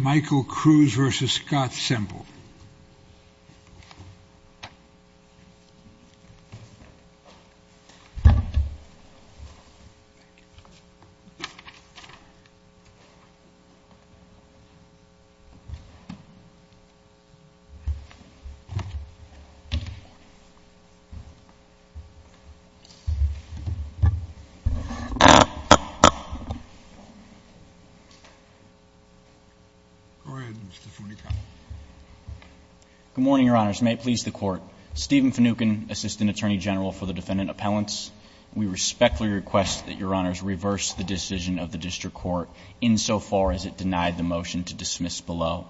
Michael Cruz v. Scott Semple Good morning, Your Honors. May it please the Court, Stephen Finucane, Assistant Attorney General for the Defendant Appellants, we respectfully request that Your Honors reverse the decision of the District Court insofar as it denied the motion to dismiss below.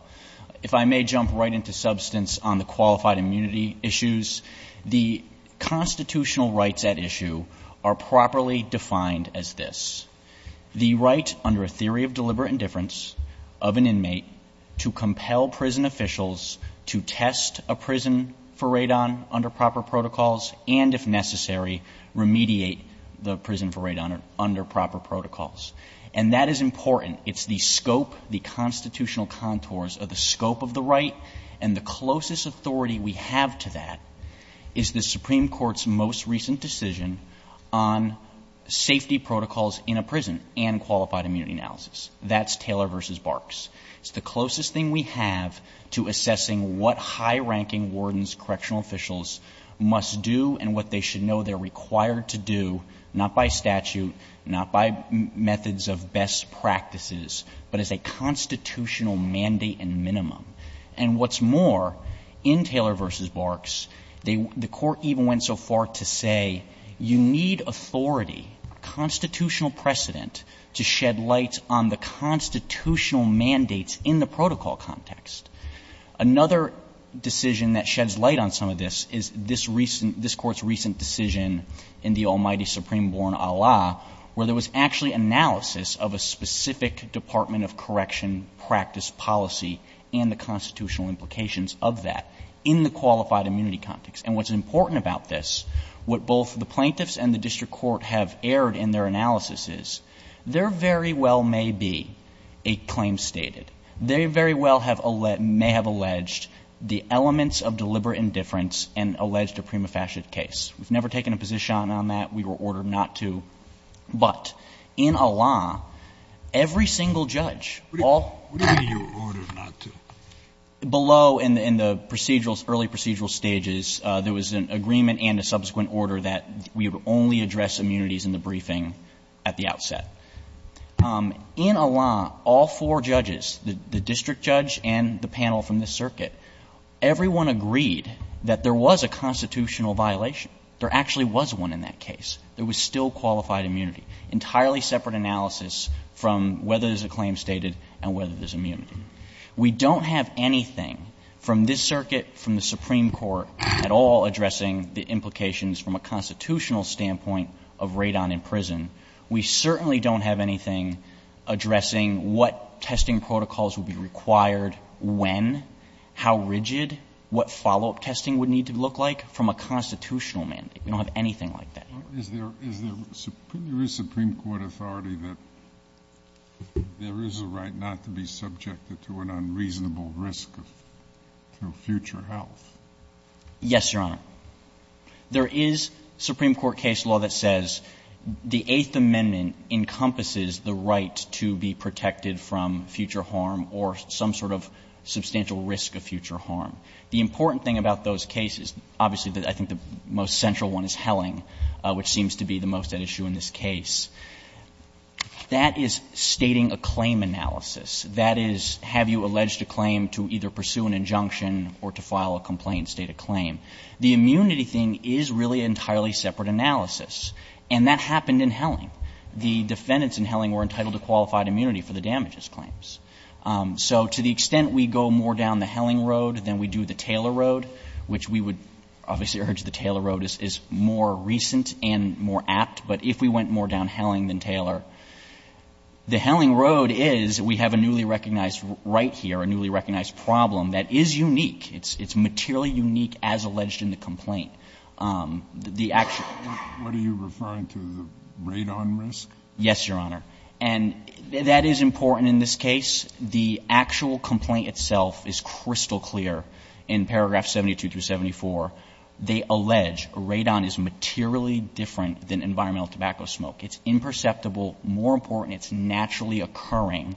If I may jump right into substance on the qualified immunity issues, the constitutional rights at issue are properly defined as this. The right under a theory of deliberate indifference of an inmate to compel prison officials to test a prison for radon under proper protocols and, if necessary, remediate the prison for radon under proper protocols. And that is important. It's the scope, the constitutional contours of the scope of the right, and the closest authority we have to that is the Supreme Court's most recent decision on safety protocols in a prison and qualified immunity analysis. That's Taylor v. Barks. It's the closest thing we have to assessing what high-ranking wardens, correctional officials must do and what they should know they're required to do, not by statute, not by methods of best practices, but as a constitutional mandate and minimum. And what's more, in Taylor v. Barks, they — the Court even went so far to say you need authority, constitutional precedent, to shed light on the constitutional mandates in the protocol context. Another decision that sheds light on some of this is this recent — this Court's recent decision in the almighty Supreme Court, Allah!, where there was actually analysis of a specific Department of Correction practice policy and the constitutional implications of that in the qualified immunity context. And what's important about this, what both the plaintiffs and the district court have erred in their analysis is, there very well may be a claim stated. They very well have — may have alleged the elements of deliberate indifference and alleged a prima facie case. We've never taken a position on that. We were ordered not to. But in Allah!, every single judge, all — What do you mean you were ordered not to? Below in the procedural — early procedural stages, there was an agreement and a subsequent order that we would only address immunities in the briefing at the outset. In Allah!, all four judges, the district judge and the panel from this circuit, everyone agreed that there was a constitutional violation. There actually was one in that case. There was still qualified immunity, entirely separate analysis from whether there's a claim stated and whether there's immunity. We don't have anything from this circuit, from the Supreme Court at all addressing the implications from a constitutional standpoint of Radon in prison. We certainly don't have anything addressing what testing protocols would be required when, how rigid, what follow-up testing would need to look like from a constitutional mandate. We don't have anything like that. Is there — is there — there is Supreme Court authority that there is a right not to be subjected to an unreasonable risk of future health? Yes, Your Honor. There is Supreme Court case law that says the Eighth Amendment encompasses the right to be protected from future harm or some sort of substantial risk of future harm. The important thing about those cases, obviously, I think the most central one is Helling, which seems to be the most at issue in this case. That is stating a claim analysis. That is, have you alleged a claim to either pursue an injunction or to file a complaint and state a claim? The immunity thing is really an entirely separate analysis. And that happened in Helling. The defendants in Helling were entitled to qualified immunity for the damages claims. So to the extent we go more down the Helling road than we do the Taylor road, which we would obviously urge the Taylor road is more recent and more apt, but if we went more down Helling than Taylor, the Helling road is we have a newly recognized right here, a newly recognized problem that is unique. It's materially unique as alleged in the complaint. The actual ---- What are you referring to, the radon risk? Yes, Your Honor. And that is important in this case. The actual complaint itself is crystal clear in paragraph 72 through 74. They allege radon is materially different than environmental tobacco smoke. It's imperceptible. More important, it's naturally occurring.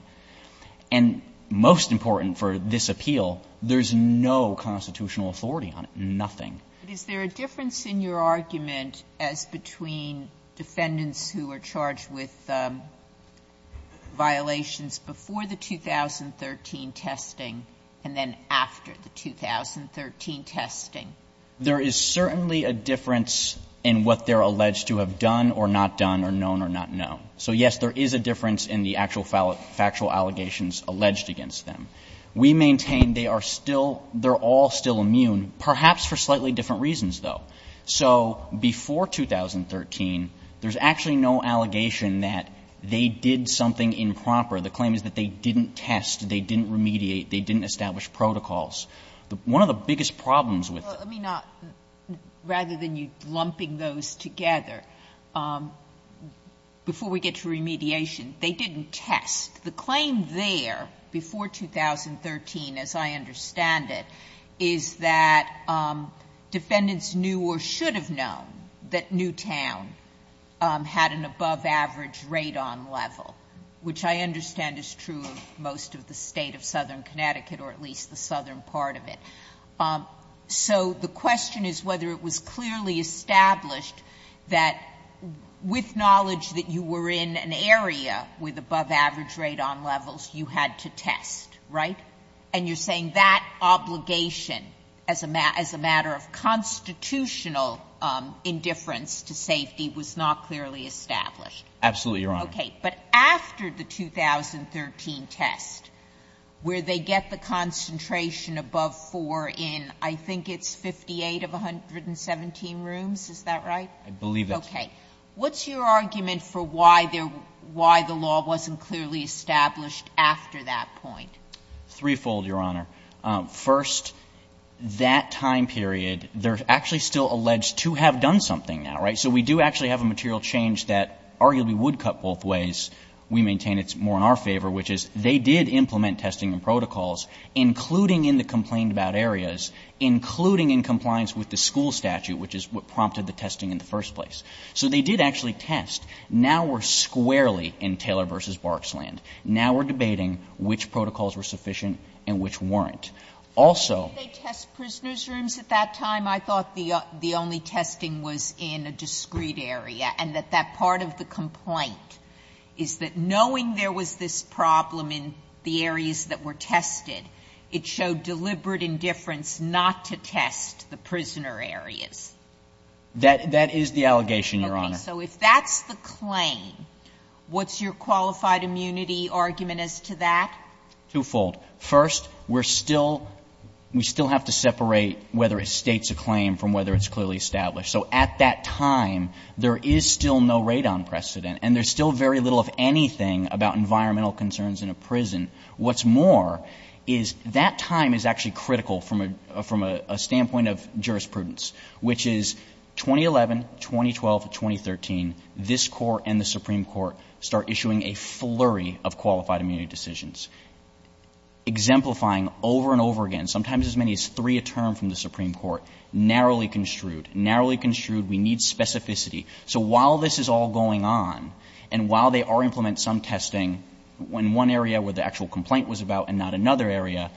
And most important for this appeal, there's no constitutional authority on it. Nothing. But is there a difference in your argument as between defendants who are charged with violations before the 2013 testing and then after the 2013 testing? There is certainly a difference in what they're alleged to have done or not done or known or not known. So, yes, there is a difference in the actual factual allegations alleged against them. We maintain they are still ---- they're all still immune, perhaps for slightly different reasons, though. So before 2013, there's actually no allegation that they did something improper. The claim is that they didn't test, they didn't remediate, they didn't establish One of the biggest problems with---- Sotomayor, let me not, rather than you lumping those together, before we get to remediation, they didn't test. The claim there before 2013, as I understand it, is that defendants knew or should have known that Newtown had an above-average radon level, which I understand is true of most of the State of Southern Connecticut or at least the southern part of it. So the question is whether it was clearly established that with knowledge that you were in an area with above-average radon levels, you had to test, right? And you're saying that obligation as a matter of constitutional indifference to safety was not clearly established? Absolutely, Your Honor. Okay. But after the 2013 test, where they get the concentration above 4 in, I think it's 58 of 117 rooms. Is that right? I believe it. Okay. What's your argument for why the law wasn't clearly established after that point? Threefold, Your Honor. First, that time period, they're actually still alleged to have done something now, right? So we do actually have a material change that arguably would cut both ways. We maintain it's more in our favor, which is they did implement testing and protocols, including in the complained-about areas, including in compliance with the school statute, which is what prompted the testing in the first place. So they did actually test. Now we're squarely in Taylor v. Barksland. Now we're debating which protocols were sufficient and which weren't. Also they test prisoners' rooms at that time. I thought the only testing was in a discrete area and that that part of the complaint is that knowing there was this problem in the areas that were tested, it showed deliberate indifference not to test the prisoner areas. That is the allegation, Your Honor. Okay. So if that's the claim, what's your qualified immunity argument as to that? Twofold. First, we're still we still have to separate whether it states a claim from whether it's clearly established. So at that time, there is still no radon precedent, and there's still very little of anything about environmental concerns in a prison. What's more is that time is actually critical from a standpoint of jurisprudence, which is 2011, 2012, 2013, this Court and the Supreme Court start issuing a flurry of qualified immunity decisions. Exemplifying over and over again, sometimes as many as three a term from the Supreme Court, narrowly construed, narrowly construed, we need specificity. So while this is all going on, and while they are implementing some testing in one area where the actual complaint was about and not another area,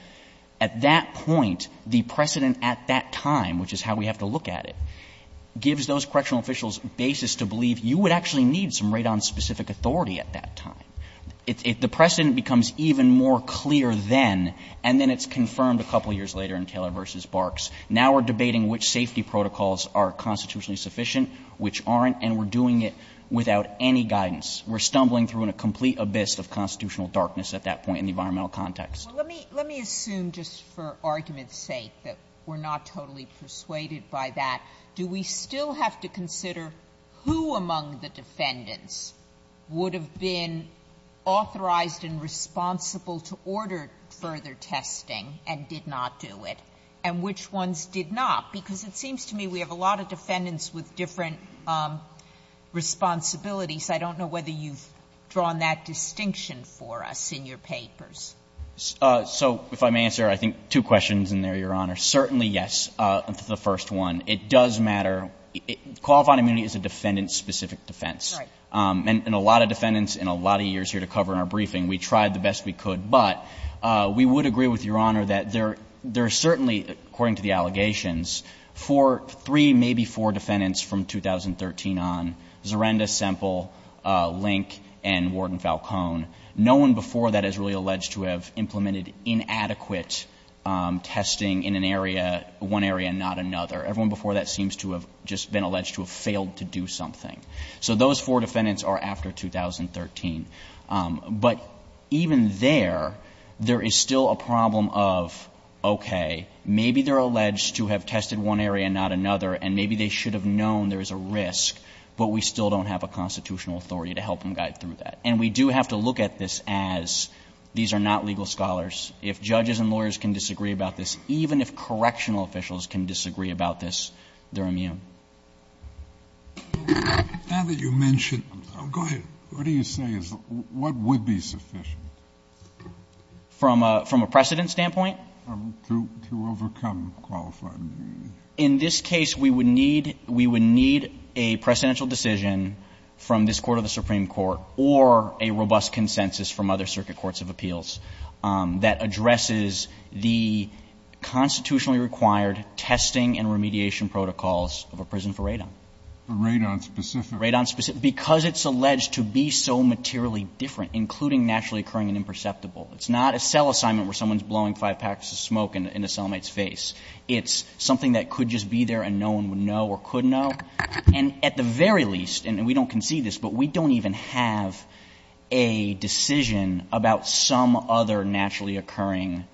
at that point, the precedent at that time, which is how we have to look at it, gives those correctional officials basis to believe you would actually need some radon-specific authority at that time. The precedent becomes even more clear then, and then it's confirmed a couple years later in Taylor v. Barks. Now we're debating which safety protocols are constitutionally sufficient, which aren't, and we're doing it without any guidance. We're stumbling through a complete abyss of constitutional darkness at that point in the environmental context. Sotomayor, let me assume just for argument's sake that we're not totally persuaded by that, do we still have to consider who among the defendants would have been authorized and responsible to order further testing and did not do it, and which ones did not? Because it seems to me we have a lot of defendants with different responsibilities. I don't know whether you've drawn that distinction for us in your papers. So if I may answer, I think, two questions in there, Your Honor. Certainly, yes, the first one. It does matter. Qualified immunity is a defendant-specific defense. And a lot of defendants in a lot of years here to cover in our briefing, we tried the best we could. But we would agree with Your Honor that there are certainly, according to the allegations, four, three, maybe four defendants from 2013 on, Zarenda, Semple, Link, and Warden Falcone, no one before that is really alleged to have implemented inadequate testing in an area, one area, not another. Everyone before that seems to have just been alleged to have failed to do something. So those four defendants are after 2013. But even there, there is still a problem of, okay, maybe they're alleged to have tested one area, not another, and maybe they should have known there is a risk, but we still don't have a constitutional authority to help them guide through that. And we do have to look at this as these are not legal scholars. If judges and lawyers can disagree about this, even if correctional officials can disagree about this, they're immune. Sotomayor. Now that you mention it, go ahead. What do you say is what would be sufficient? From a precedent standpoint? To overcome qualified immunity. In this case, we would need a precedential decision from this Court of the Supreme Court or a robust consensus from other circuit courts of appeals. That addresses the constitutionally required testing and remediation protocols of a prison for radon. Radon-specific. Radon-specific. Because it's alleged to be so materially different, including naturally occurring and imperceptible. It's not a cell assignment where someone is blowing five packs of smoke in a cellmate's face. It's something that could just be there and no one would know or could know. And at the very least, and we don't concede this, but we don't even have a decision about some other naturally occurring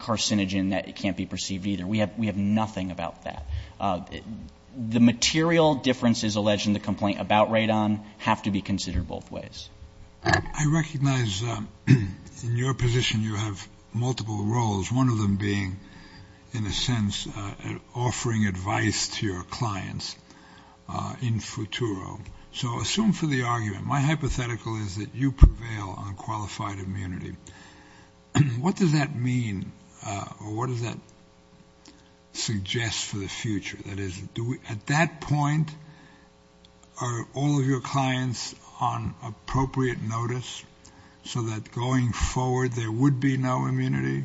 carcinogen that can't be perceived either. We have nothing about that. The material differences alleged in the complaint about radon have to be considered both ways. I recognize in your position you have multiple roles, one of them being, in a sense, offering advice to your clients in futuro. So assume for the argument, my hypothetical is that you prevail on qualified immunity. What does that mean or what does that suggest for the future? That is, at that point, are all of your clients on appropriate notice so that going forward there would be no immunity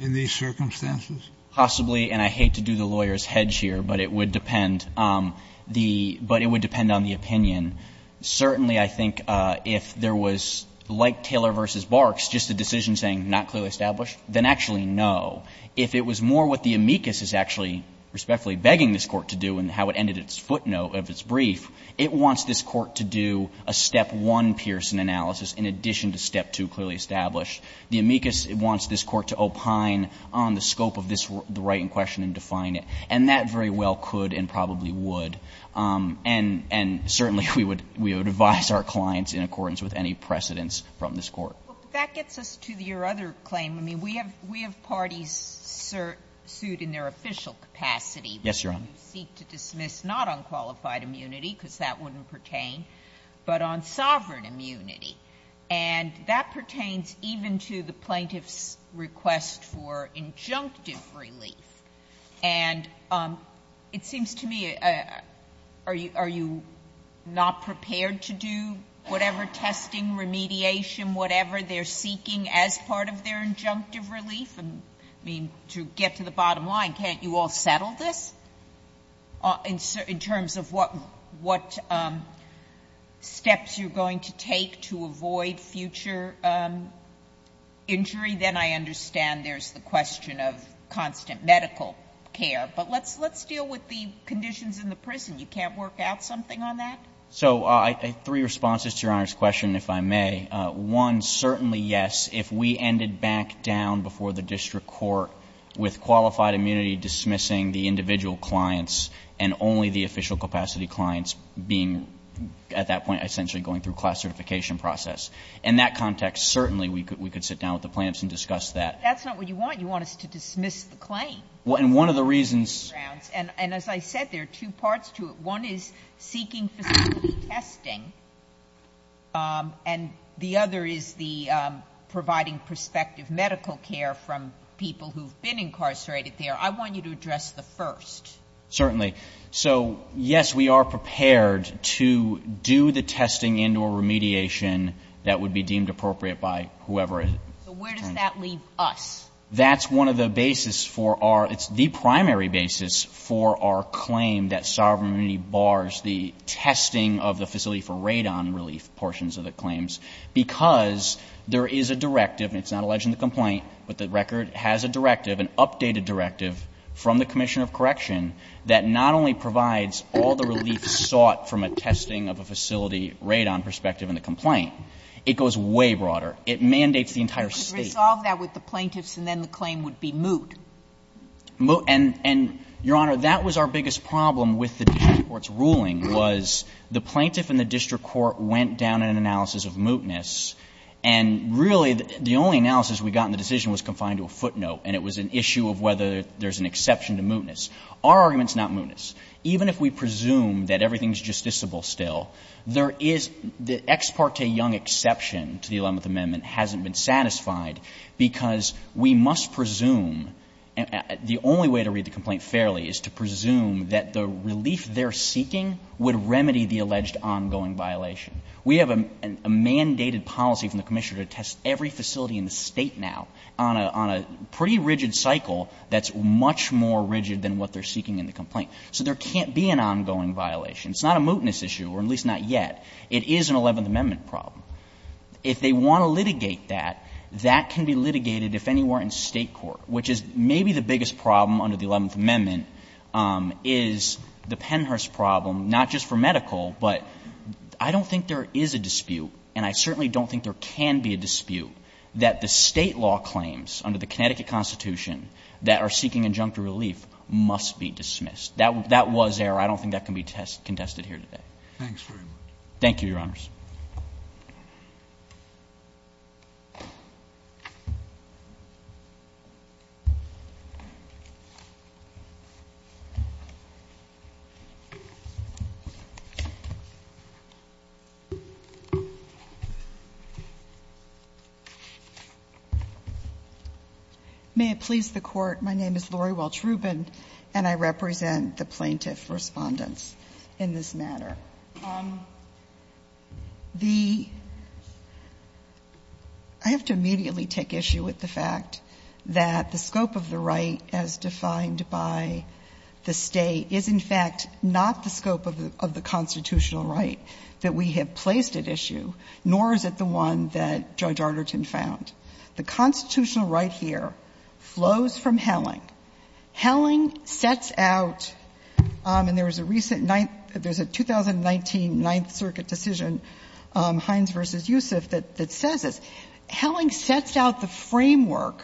in these circumstances? Possibly. And I hate to do the lawyer's hedge here, but it would depend. But it would depend on the opinion. Certainly, I think if there was, like Taylor v. Barks, just a decision saying not clearly established, then actually no. If it was more what the amicus is actually respectfully begging this Court to do and how it ended its footnote of its brief, it wants this Court to do a step one Pearson analysis in addition to step two clearly established. The amicus wants this Court to opine on the scope of the right in question and define the scope of the right in question. And that very well could and probably would. And certainly we would advise our clients in accordance with any precedence from this Court. But that gets us to your other claim. I mean, we have parties sued in their official capacity. Yes, Your Honor. Who seek to dismiss not on qualified immunity, because that wouldn't pertain, but on sovereign immunity. And that pertains even to the plaintiff's request for injunctive relief. And it seems to me, are you not prepared to do whatever testing, remediation, whatever they're seeking as part of their injunctive relief? I mean, to get to the bottom line, can't you all settle this in terms of what steps you're going to take to avoid future injury? Then I understand there's the question of constant medical care. But let's deal with the conditions in the prison. You can't work out something on that? So three responses to Your Honor's question, if I may. One, certainly yes, if we ended back down before the district court with qualified immunity dismissing the individual clients and only the official capacity clients being at that point essentially going through class certification process. In that context, certainly we could sit down with the plaintiffs and discuss that. But that's not what you want. You want us to dismiss the claim. And one of the reasons. And as I said, there are two parts to it. One is seeking facility testing, and the other is the providing prospective medical care from people who have been incarcerated there. I want you to address the first. Certainly. Okay. So, yes, we are prepared to do the testing and or remediation that would be deemed appropriate by whoever. So where does that leave us? That's one of the basis for our ‑‑ it's the primary basis for our claim that sovereignty bars the testing of the facility for radon relief portions of the claims because there is a directive, and it's not alleged in the complaint, but the record has a directive, an updated directive from the commissioner of correction that not only provides all the relief sought from a testing of a facility radon perspective in the complaint, it goes way broader. It mandates the entire state. You could resolve that with the plaintiffs and then the claim would be moot. And, Your Honor, that was our biggest problem with the district court's ruling was the plaintiff and the district court went down in an analysis of mootness and really the only analysis we got in the decision was confined to a footnote and it was an issue of whether there's an exception to mootness. Our argument is not mootness. Even if we presume that everything is justiciable still, there is the ex parte young exception to the Eleventh Amendment hasn't been satisfied because we must presume ‑‑ the only way to read the complaint fairly is to presume that the relief they are seeking would remedy the alleged ongoing violation. We have a mandated policy from the commissioner to test every facility in the State now on a pretty rigid cycle that's much more rigid than what they are seeking in the complaint. So there can't be an ongoing violation. It's not a mootness issue, or at least not yet. It is an Eleventh Amendment problem. If they want to litigate that, that can be litigated if anywhere in State court, which is maybe the biggest problem under the Eleventh Amendment, is the Pennhurst problem, not just for medical, but I don't think there is a dispute and I certainly don't think there can be a dispute that the State law claims under the Connecticut Constitution that are seeking injunctive relief must be dismissed. That was error. I don't think that can be contested here today. Thank you, Your Honors. May it please the Court, my name is Lori Welch Rubin and I represent the plaintiff respondents in this matter. I have to immediately take issue with the fact that the scope of the right as defined by the State is, in fact, not the scope of the constitutional right that we have placed at issue, nor is it the one that Judge Arterton found. I think it's important to note that Helling sets out, and there was a recent 19th, there's a 2019 Ninth Circuit decision, Hines v. Yusuf, that says this. Helling sets out the framework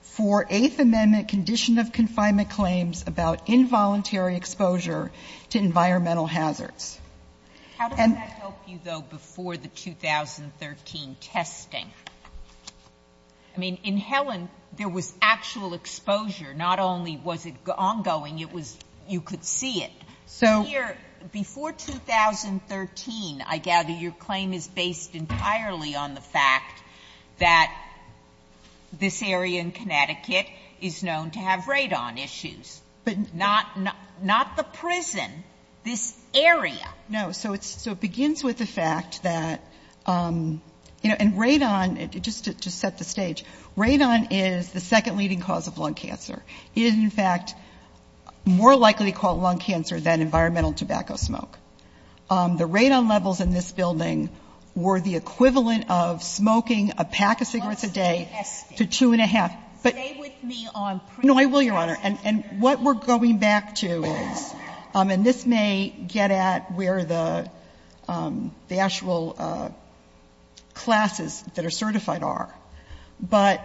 for Eighth Amendment condition of confinement claims about involuntary exposure to environmental hazards. How does that help you, though, before the 2013 testing? I mean, in Helling, there was actual exposure. Not only was it ongoing, it was you could see it. So here, before 2013, I gather your claim is based entirely on the fact that this area in Connecticut is known to have radon issues. Not the prison, this area. No. So it begins with the fact that, you know, and radon, just to set the stage, radon is the second leading cause of lung cancer. It is, in fact, more likely to cause lung cancer than environmental tobacco smoke. The radon levels in this building were the equivalent of smoking a pack of cigarettes a day to two and a half. Stay with me on prison. No, I will, Your Honor. And what we're going back to is, and this may get at where the actual classes that are certified are, but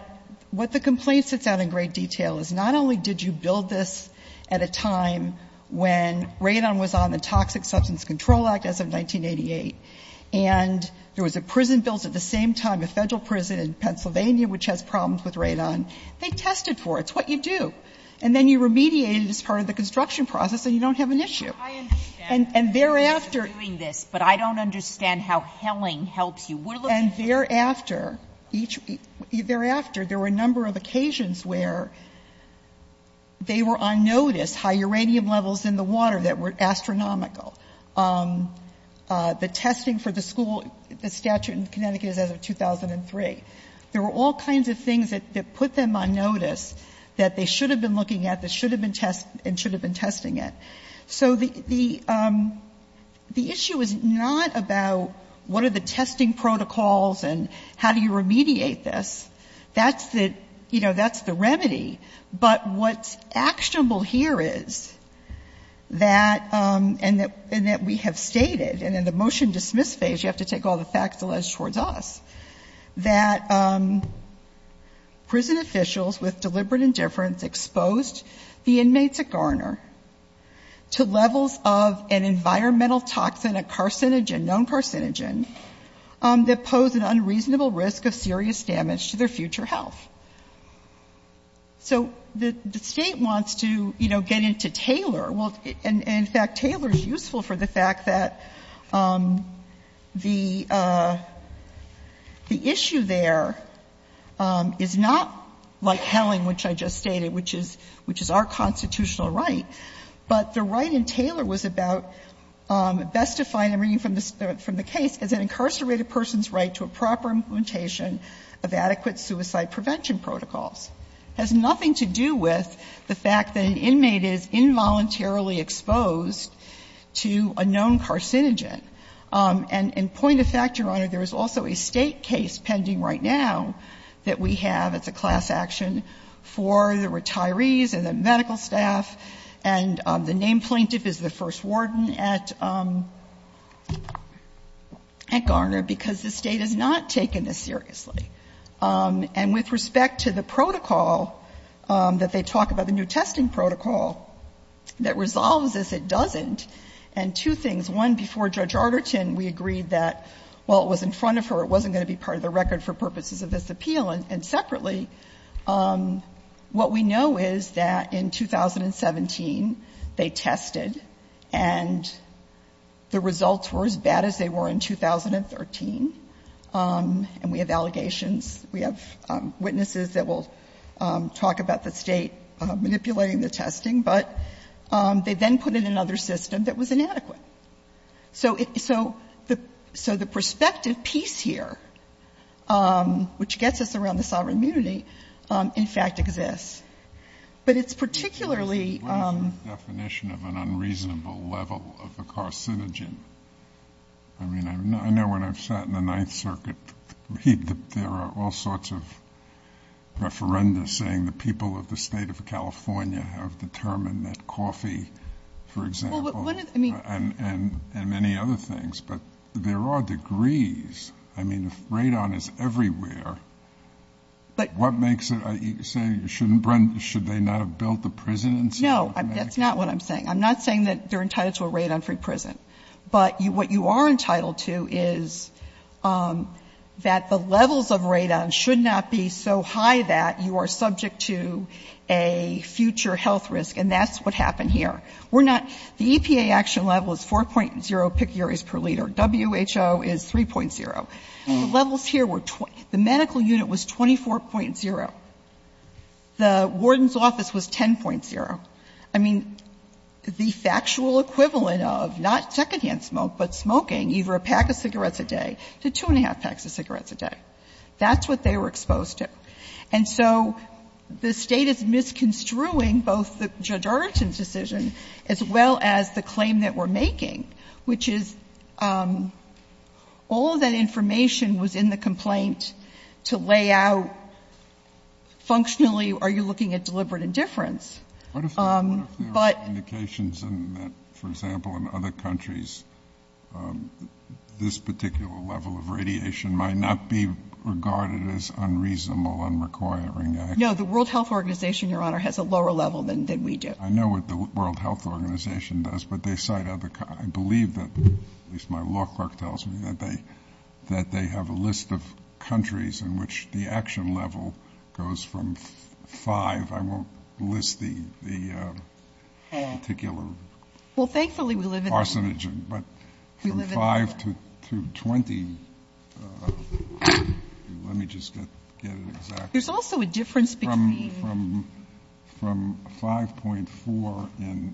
what the complaint sets out in great detail is not only did you build this at a time when radon was on the Toxic Substance Control Act as of 1988, and there was a prison built at the same time, a Federal prison in Pennsylvania which has problems with radon. They tested for it. It's what you do. And then you remediate it as part of the construction process, and you don't have an issue. And thereafter you're doing this, but I don't understand how Helling helps you. We're looking at this. And thereafter, there were a number of occasions where they were on notice, high uranium levels in the water that were astronomical. The testing for the school, the statute in Connecticut is as of 2003. There were all kinds of things that put them on notice that they should have been looking at, that should have been tested, and should have been testing it. So the issue is not about what are the testing protocols and how do you remediate this. That's the, you know, that's the remedy. But what's actionable here is that, and that we have stated, and in the motion to dismiss phase, you have to take all the facts alleged towards us, that prison officials with deliberate indifference exposed the inmates at Garner to levels of an environmental toxin, a carcinogen, known carcinogen, that posed an unreasonable risk of serious damage to their future health. So the State wants to, you know, get into Taylor. Well, and in fact, Taylor is useful for the fact that the issue there is not like Helling, which I just stated, which is our constitutional right. But the right in Taylor was about, best defined, I'm reading from the case, as an incarcerated person's right to a proper implementation of adequate suicide prevention protocols. It has nothing to do with the fact that an inmate is involuntarily exposed to a known carcinogen. And point of fact, Your Honor, there is also a State case pending right now that we have as a class action for the retirees and the medical staff, and the name plaintiff is the first warden at Garner, because the State has not taken this seriously. And with respect to the protocol that they talk about, the new testing protocol that resolves this, it doesn't, and two things. One, before Judge Arterton, we agreed that while it was in front of her, it wasn't going to be part of the record for purposes of this appeal. And separately, what we know is that in 2017, they tested and the results were as bad as they were in 2013. And we have allegations. We have witnesses that will talk about the State manipulating the testing. But they then put in another system that was inadequate. So the perspective piece here, which gets us around the sovereign immunity, in fact exists. But it's particularly the definition of an unreasonable level of the carcinogen. I mean, I know when I've sat in the Ninth Circuit, there are all sorts of referenda saying the people of the State of California have determined that coffee, for example, and many other things. But there are degrees. I mean, Radon is everywhere. What makes it? Should they not have built the prisons? No, that's not what I'm saying. I'm not saying that they're entitled to a Radon-free prison. But what you are entitled to is that the levels of Radon should not be so high that you are subject to a future health risk. And that's what happened here. We're not. The EPA action level is 4.0 picures per liter. WHO is 3.0. The levels here were 20. The medical unit was 24.0. The warden's office was 10.0. I mean, the factual equivalent of not secondhand smoke, but smoking either a pack of cigarettes a day to two-and-a-half packs of cigarettes a day. That's what they were exposed to. And so the State is misconstruing both Judge Arnoldson's decision as well as the claim that we're making, which is all of that information was in the complaint to lay out functionally, are you looking at deliberate indifference? But What if there are indications that, for example, in other countries, this particular level of radiation might not be regarded as unreasonable and requiring action? The World Health Organization, Your Honor, has a lower level than we do. I know what the World Health Organization does, but they cite other countries. I believe that, at least my law clerk tells me, that they have a list of countries in which the action level goes from 5. I'm sorry if I won't list the particular Well, thankfully we live in Arsenogen, but from 5 to 20, let me just get it exactly There's also a difference between From 5.4 in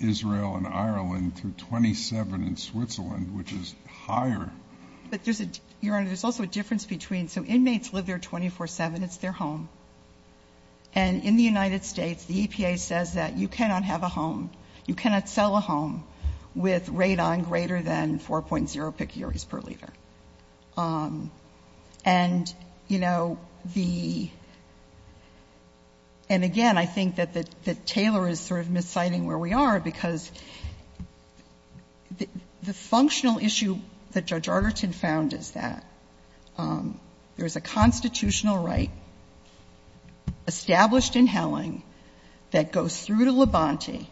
Israel and Ireland to 27 in Switzerland, which is higher But there's a, Your Honor, there's also a difference between, so inmates live there 24-7. It's their home. And in the United States, the EPA says that you cannot have a home, you cannot sell a home with radon greater than 4.0 picures per liter. And, you know, the, and again, I think that Taylor is sort of misciting where we are because the functional issue that Judge Arlerton found is that there's a constitutional right established in Helling that goes through to Levanti,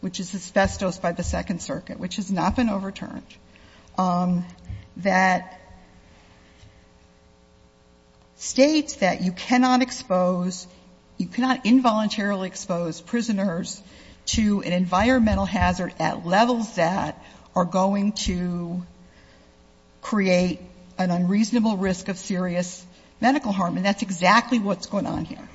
which is asbestos by the Second Circuit, which has not been overturned, that states that you cannot expose, you cannot involuntarily expose prisoners to an environmental hazard at levels that are going to create an unreasonable risk of serious medical harm. And that's exactly what's going on here.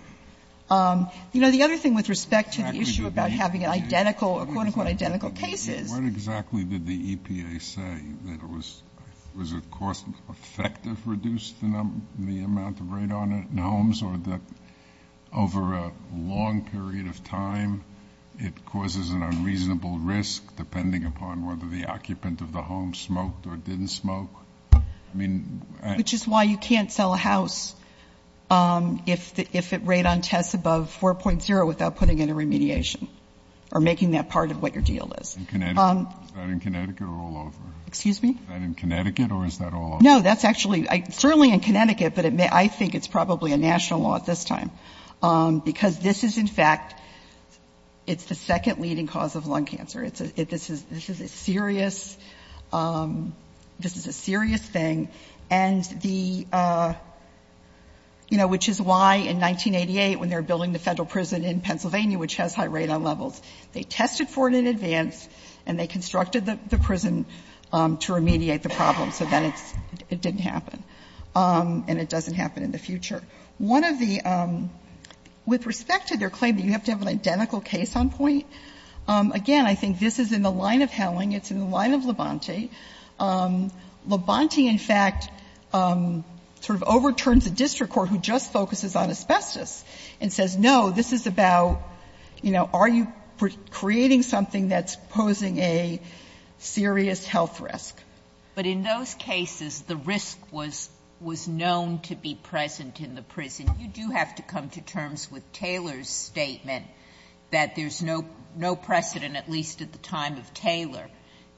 You know, the other thing with respect to the issue about having an identical, a quote-unquote identical case is What exactly did the EPA say? That it was, was it cost effective to reduce the number, the amount of radon in homes or that over a long period of time, it causes an unreasonable risk depending upon whether the occupant of the home smoked or didn't smoke? I mean, I don't know. Which is why you can't sell a house if the, if it radon tests above 4.0 without putting in a remediation or making that part of what your deal is. In Connecticut? Is that in Connecticut or all over? Excuse me? Is that in Connecticut or is that all over? No, that's actually, certainly in Connecticut, but it may, I think it's probably a national law at this time. Because this is in fact, it's the second leading cause of lung cancer. It's a, this is, this is a serious, this is a serious thing. And the, you know, which is why in 1988, when they were building the Federal prison in Pennsylvania, which has high radon levels, they tested for it in advance and they constructed the prison to remediate the problem. So then it didn't happen. And it doesn't happen in the future. One of the, with respect to their claim that you have to have an identical case on point, again, I think this is in the line of Howling, it's in the line of Labonte. Labonte, in fact, sort of overturns a district court who just focuses on asbestos and says, no, this is about, you know, are you creating something that's posing a serious health risk? But in those cases, the risk was, was known to be present in the prison. You do have to come to terms with Taylor's statement that there's no, no precedent, at least at the time of Taylor,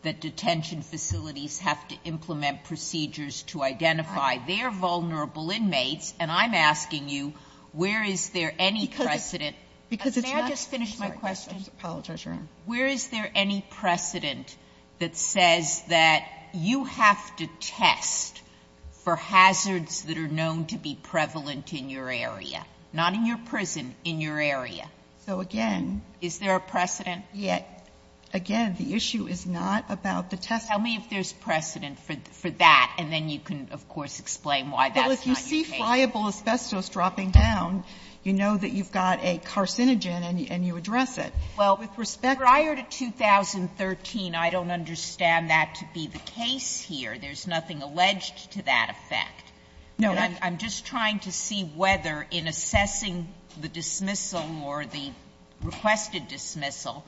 that detention facilities have to implement procedures to identify their vulnerable inmates. And I'm asking you, where is there any precedent? May I just finish my question? I apologize, Your Honor. Where is there any precedent that says that you have to test for hazards that are known to be prevalent in your area? Not in your prison, in your area. So, again. Is there a precedent? Again, the issue is not about the testing. Tell me if there's precedent for that, and then you can, of course, explain why that's not your case. Well, if you see friable asbestos dropping down, you know that you've got a carcinogen and you address it. Well, with respect to the case. Prior to 2013, I don't understand that to be the case here. There's nothing alleged to that effect. No, I'm just trying to see whether in assessing the dismissal or the requested dismissal,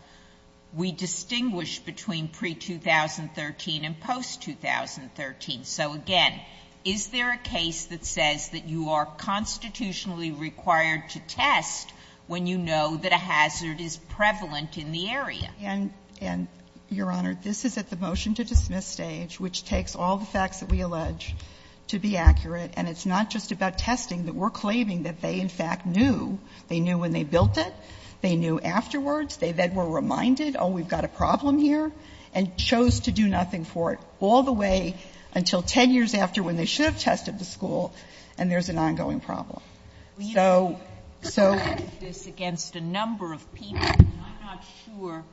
we distinguish between pre-2013 and post-2013. So, again, is there a case that says that you are constitutionally required to test when you know that a hazard is prevalent in the area? And, Your Honor, this is at the motion to dismiss stage, which takes all the facts that we allege to be accurate, and it's not just about testing. We're claiming that they, in fact, knew. They knew when they built it. They knew afterwards. They then were reminded, oh, we've got a problem here, and chose to do nothing for it, all the way until 10 years after when they should have tested the school, and there's an ongoing problem. So. So. This is against a number of people, and I'm not sure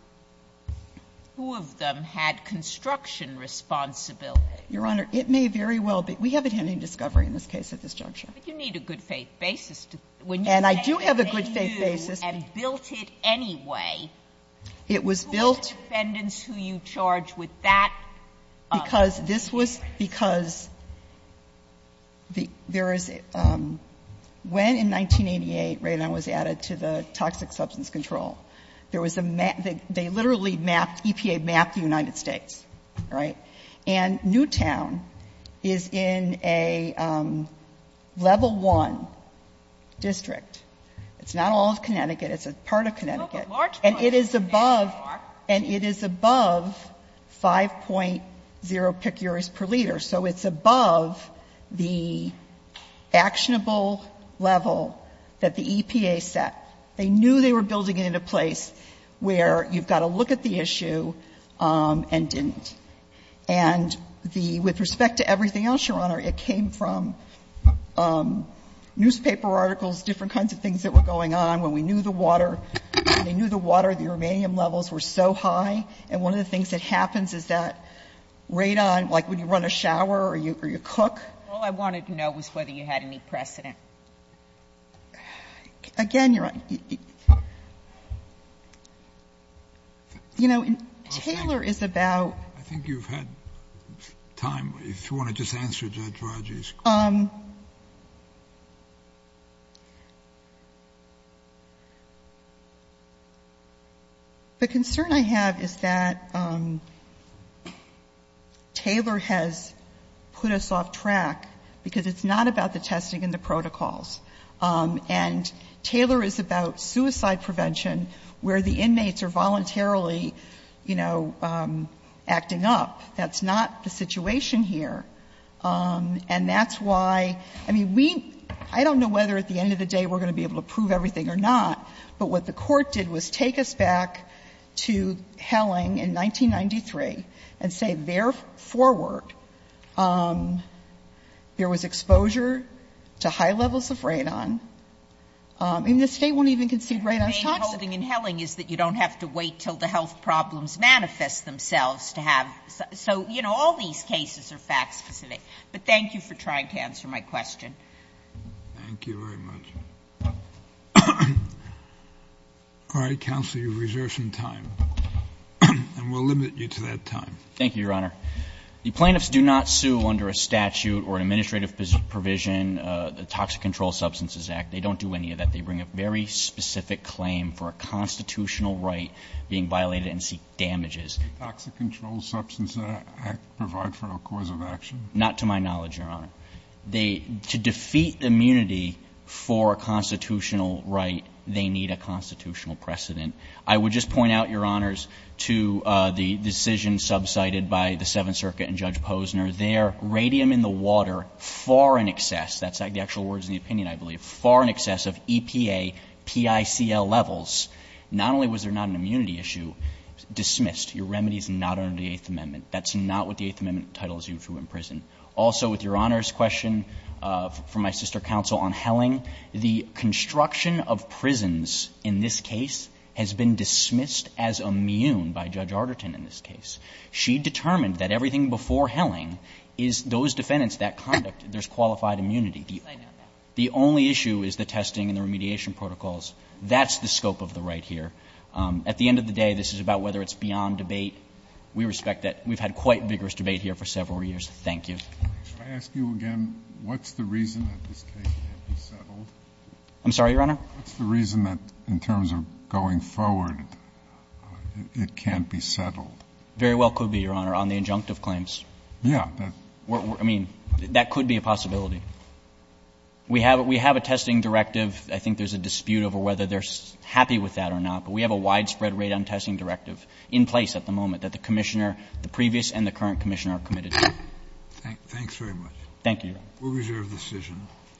who of them had construction responsibility. Your Honor, it may very well be. We haven't had any discovery in this case at this juncture. But you need a good-faith basis. And I do have a good-faith basis. When you say that they knew and built it anyway, who are the defendants who you charge with that? Because this was because there is, when in 1988 Radon was added to the Toxic Substance Control, there was a map, they literally mapped, EPA mapped the United States, right? And Newtown is in a level one district. It's not all of Connecticut. It's a part of Connecticut. And it is above 5.0 picures per liter. So it's above the actionable level that the EPA set. They knew they were building it in a place where you've got to look at the issue and didn't. And the, with respect to everything else, Your Honor, it came from newspaper articles, different kinds of things that were going on. When we knew the water, they knew the water, the ruminant levels were so high. And one of the things that happens is that Radon, like when you run a shower or you cook. All I wanted to know was whether you had any precedent. Again, Your Honor, you know, Taylor is about. I think you've had time. If you want to just answer Judge Rodgers. The concern I have is that Taylor has put us off track because it's not about the testing and the protocols. And Taylor is about suicide prevention where the inmates are voluntarily, you know, acting up. That's not the situation here. And that's why, I mean, we, I don't know whether at the end of the day we're going to be able to prove everything or not, but what the Court did was take us back to Helling in 1993 and say, therefore, there was exposure to high levels of Radon. And the State won't even concede Radon is toxic. Sotomayor, holding in Helling is that you don't have to wait until the health problems manifest themselves to have. So, you know, all these cases are fact specific. But thank you for trying to answer my question. Thank you very much. All right, counsel, you've reserved some time. And we'll limit you to that time. Thank you, Your Honor. The plaintiffs do not sue under a statute or an administrative provision, the Toxic Control Substances Act. They don't do any of that. They bring a very specific claim for a constitutional right being violated and seek damages. Does the Toxic Control Substances Act provide for a cause of action? Not to my knowledge, Your Honor. They, to defeat immunity for a constitutional right, they need a constitutional precedent. I would just point out, Your Honors, to the decision subsided by the Seventh Circuit and Judge Posner. Their radium in the water, far in excess, that's the actual words in the opinion, I believe, far in excess of EPA, PICL levels, not only was there not an immunity issue, dismissed. Your remedy is not under the Eighth Amendment. That's not what the Eighth Amendment entitles you to in prison. Also, with Your Honor's question from my sister counsel on Helling, the construction of prisons in this case has been dismissed as immune by Judge Arderton in this case. She determined that everything before Helling is those defendants, that conduct, there's qualified immunity. The only issue is the testing and the remediation protocols. That's the scope of the right here. At the end of the day, this is about whether it's beyond debate. We respect that. We've had quite vigorous debate here for several years. Thank you. Should I ask you again what's the reason that this case can't be settled? I'm sorry, Your Honor? What's the reason that in terms of going forward it can't be settled? Very well could be, Your Honor, on the injunctive claims. Yeah. I mean, that could be a possibility. We have a testing directive. I think there's a dispute over whether they're happy with that or not. But we have a widespread rate on testing directive in place at the moment that the commissioner, the previous and the current commissioner are committed to. Thanks very much. Thank you, Your Honor. We'll reserve the decision.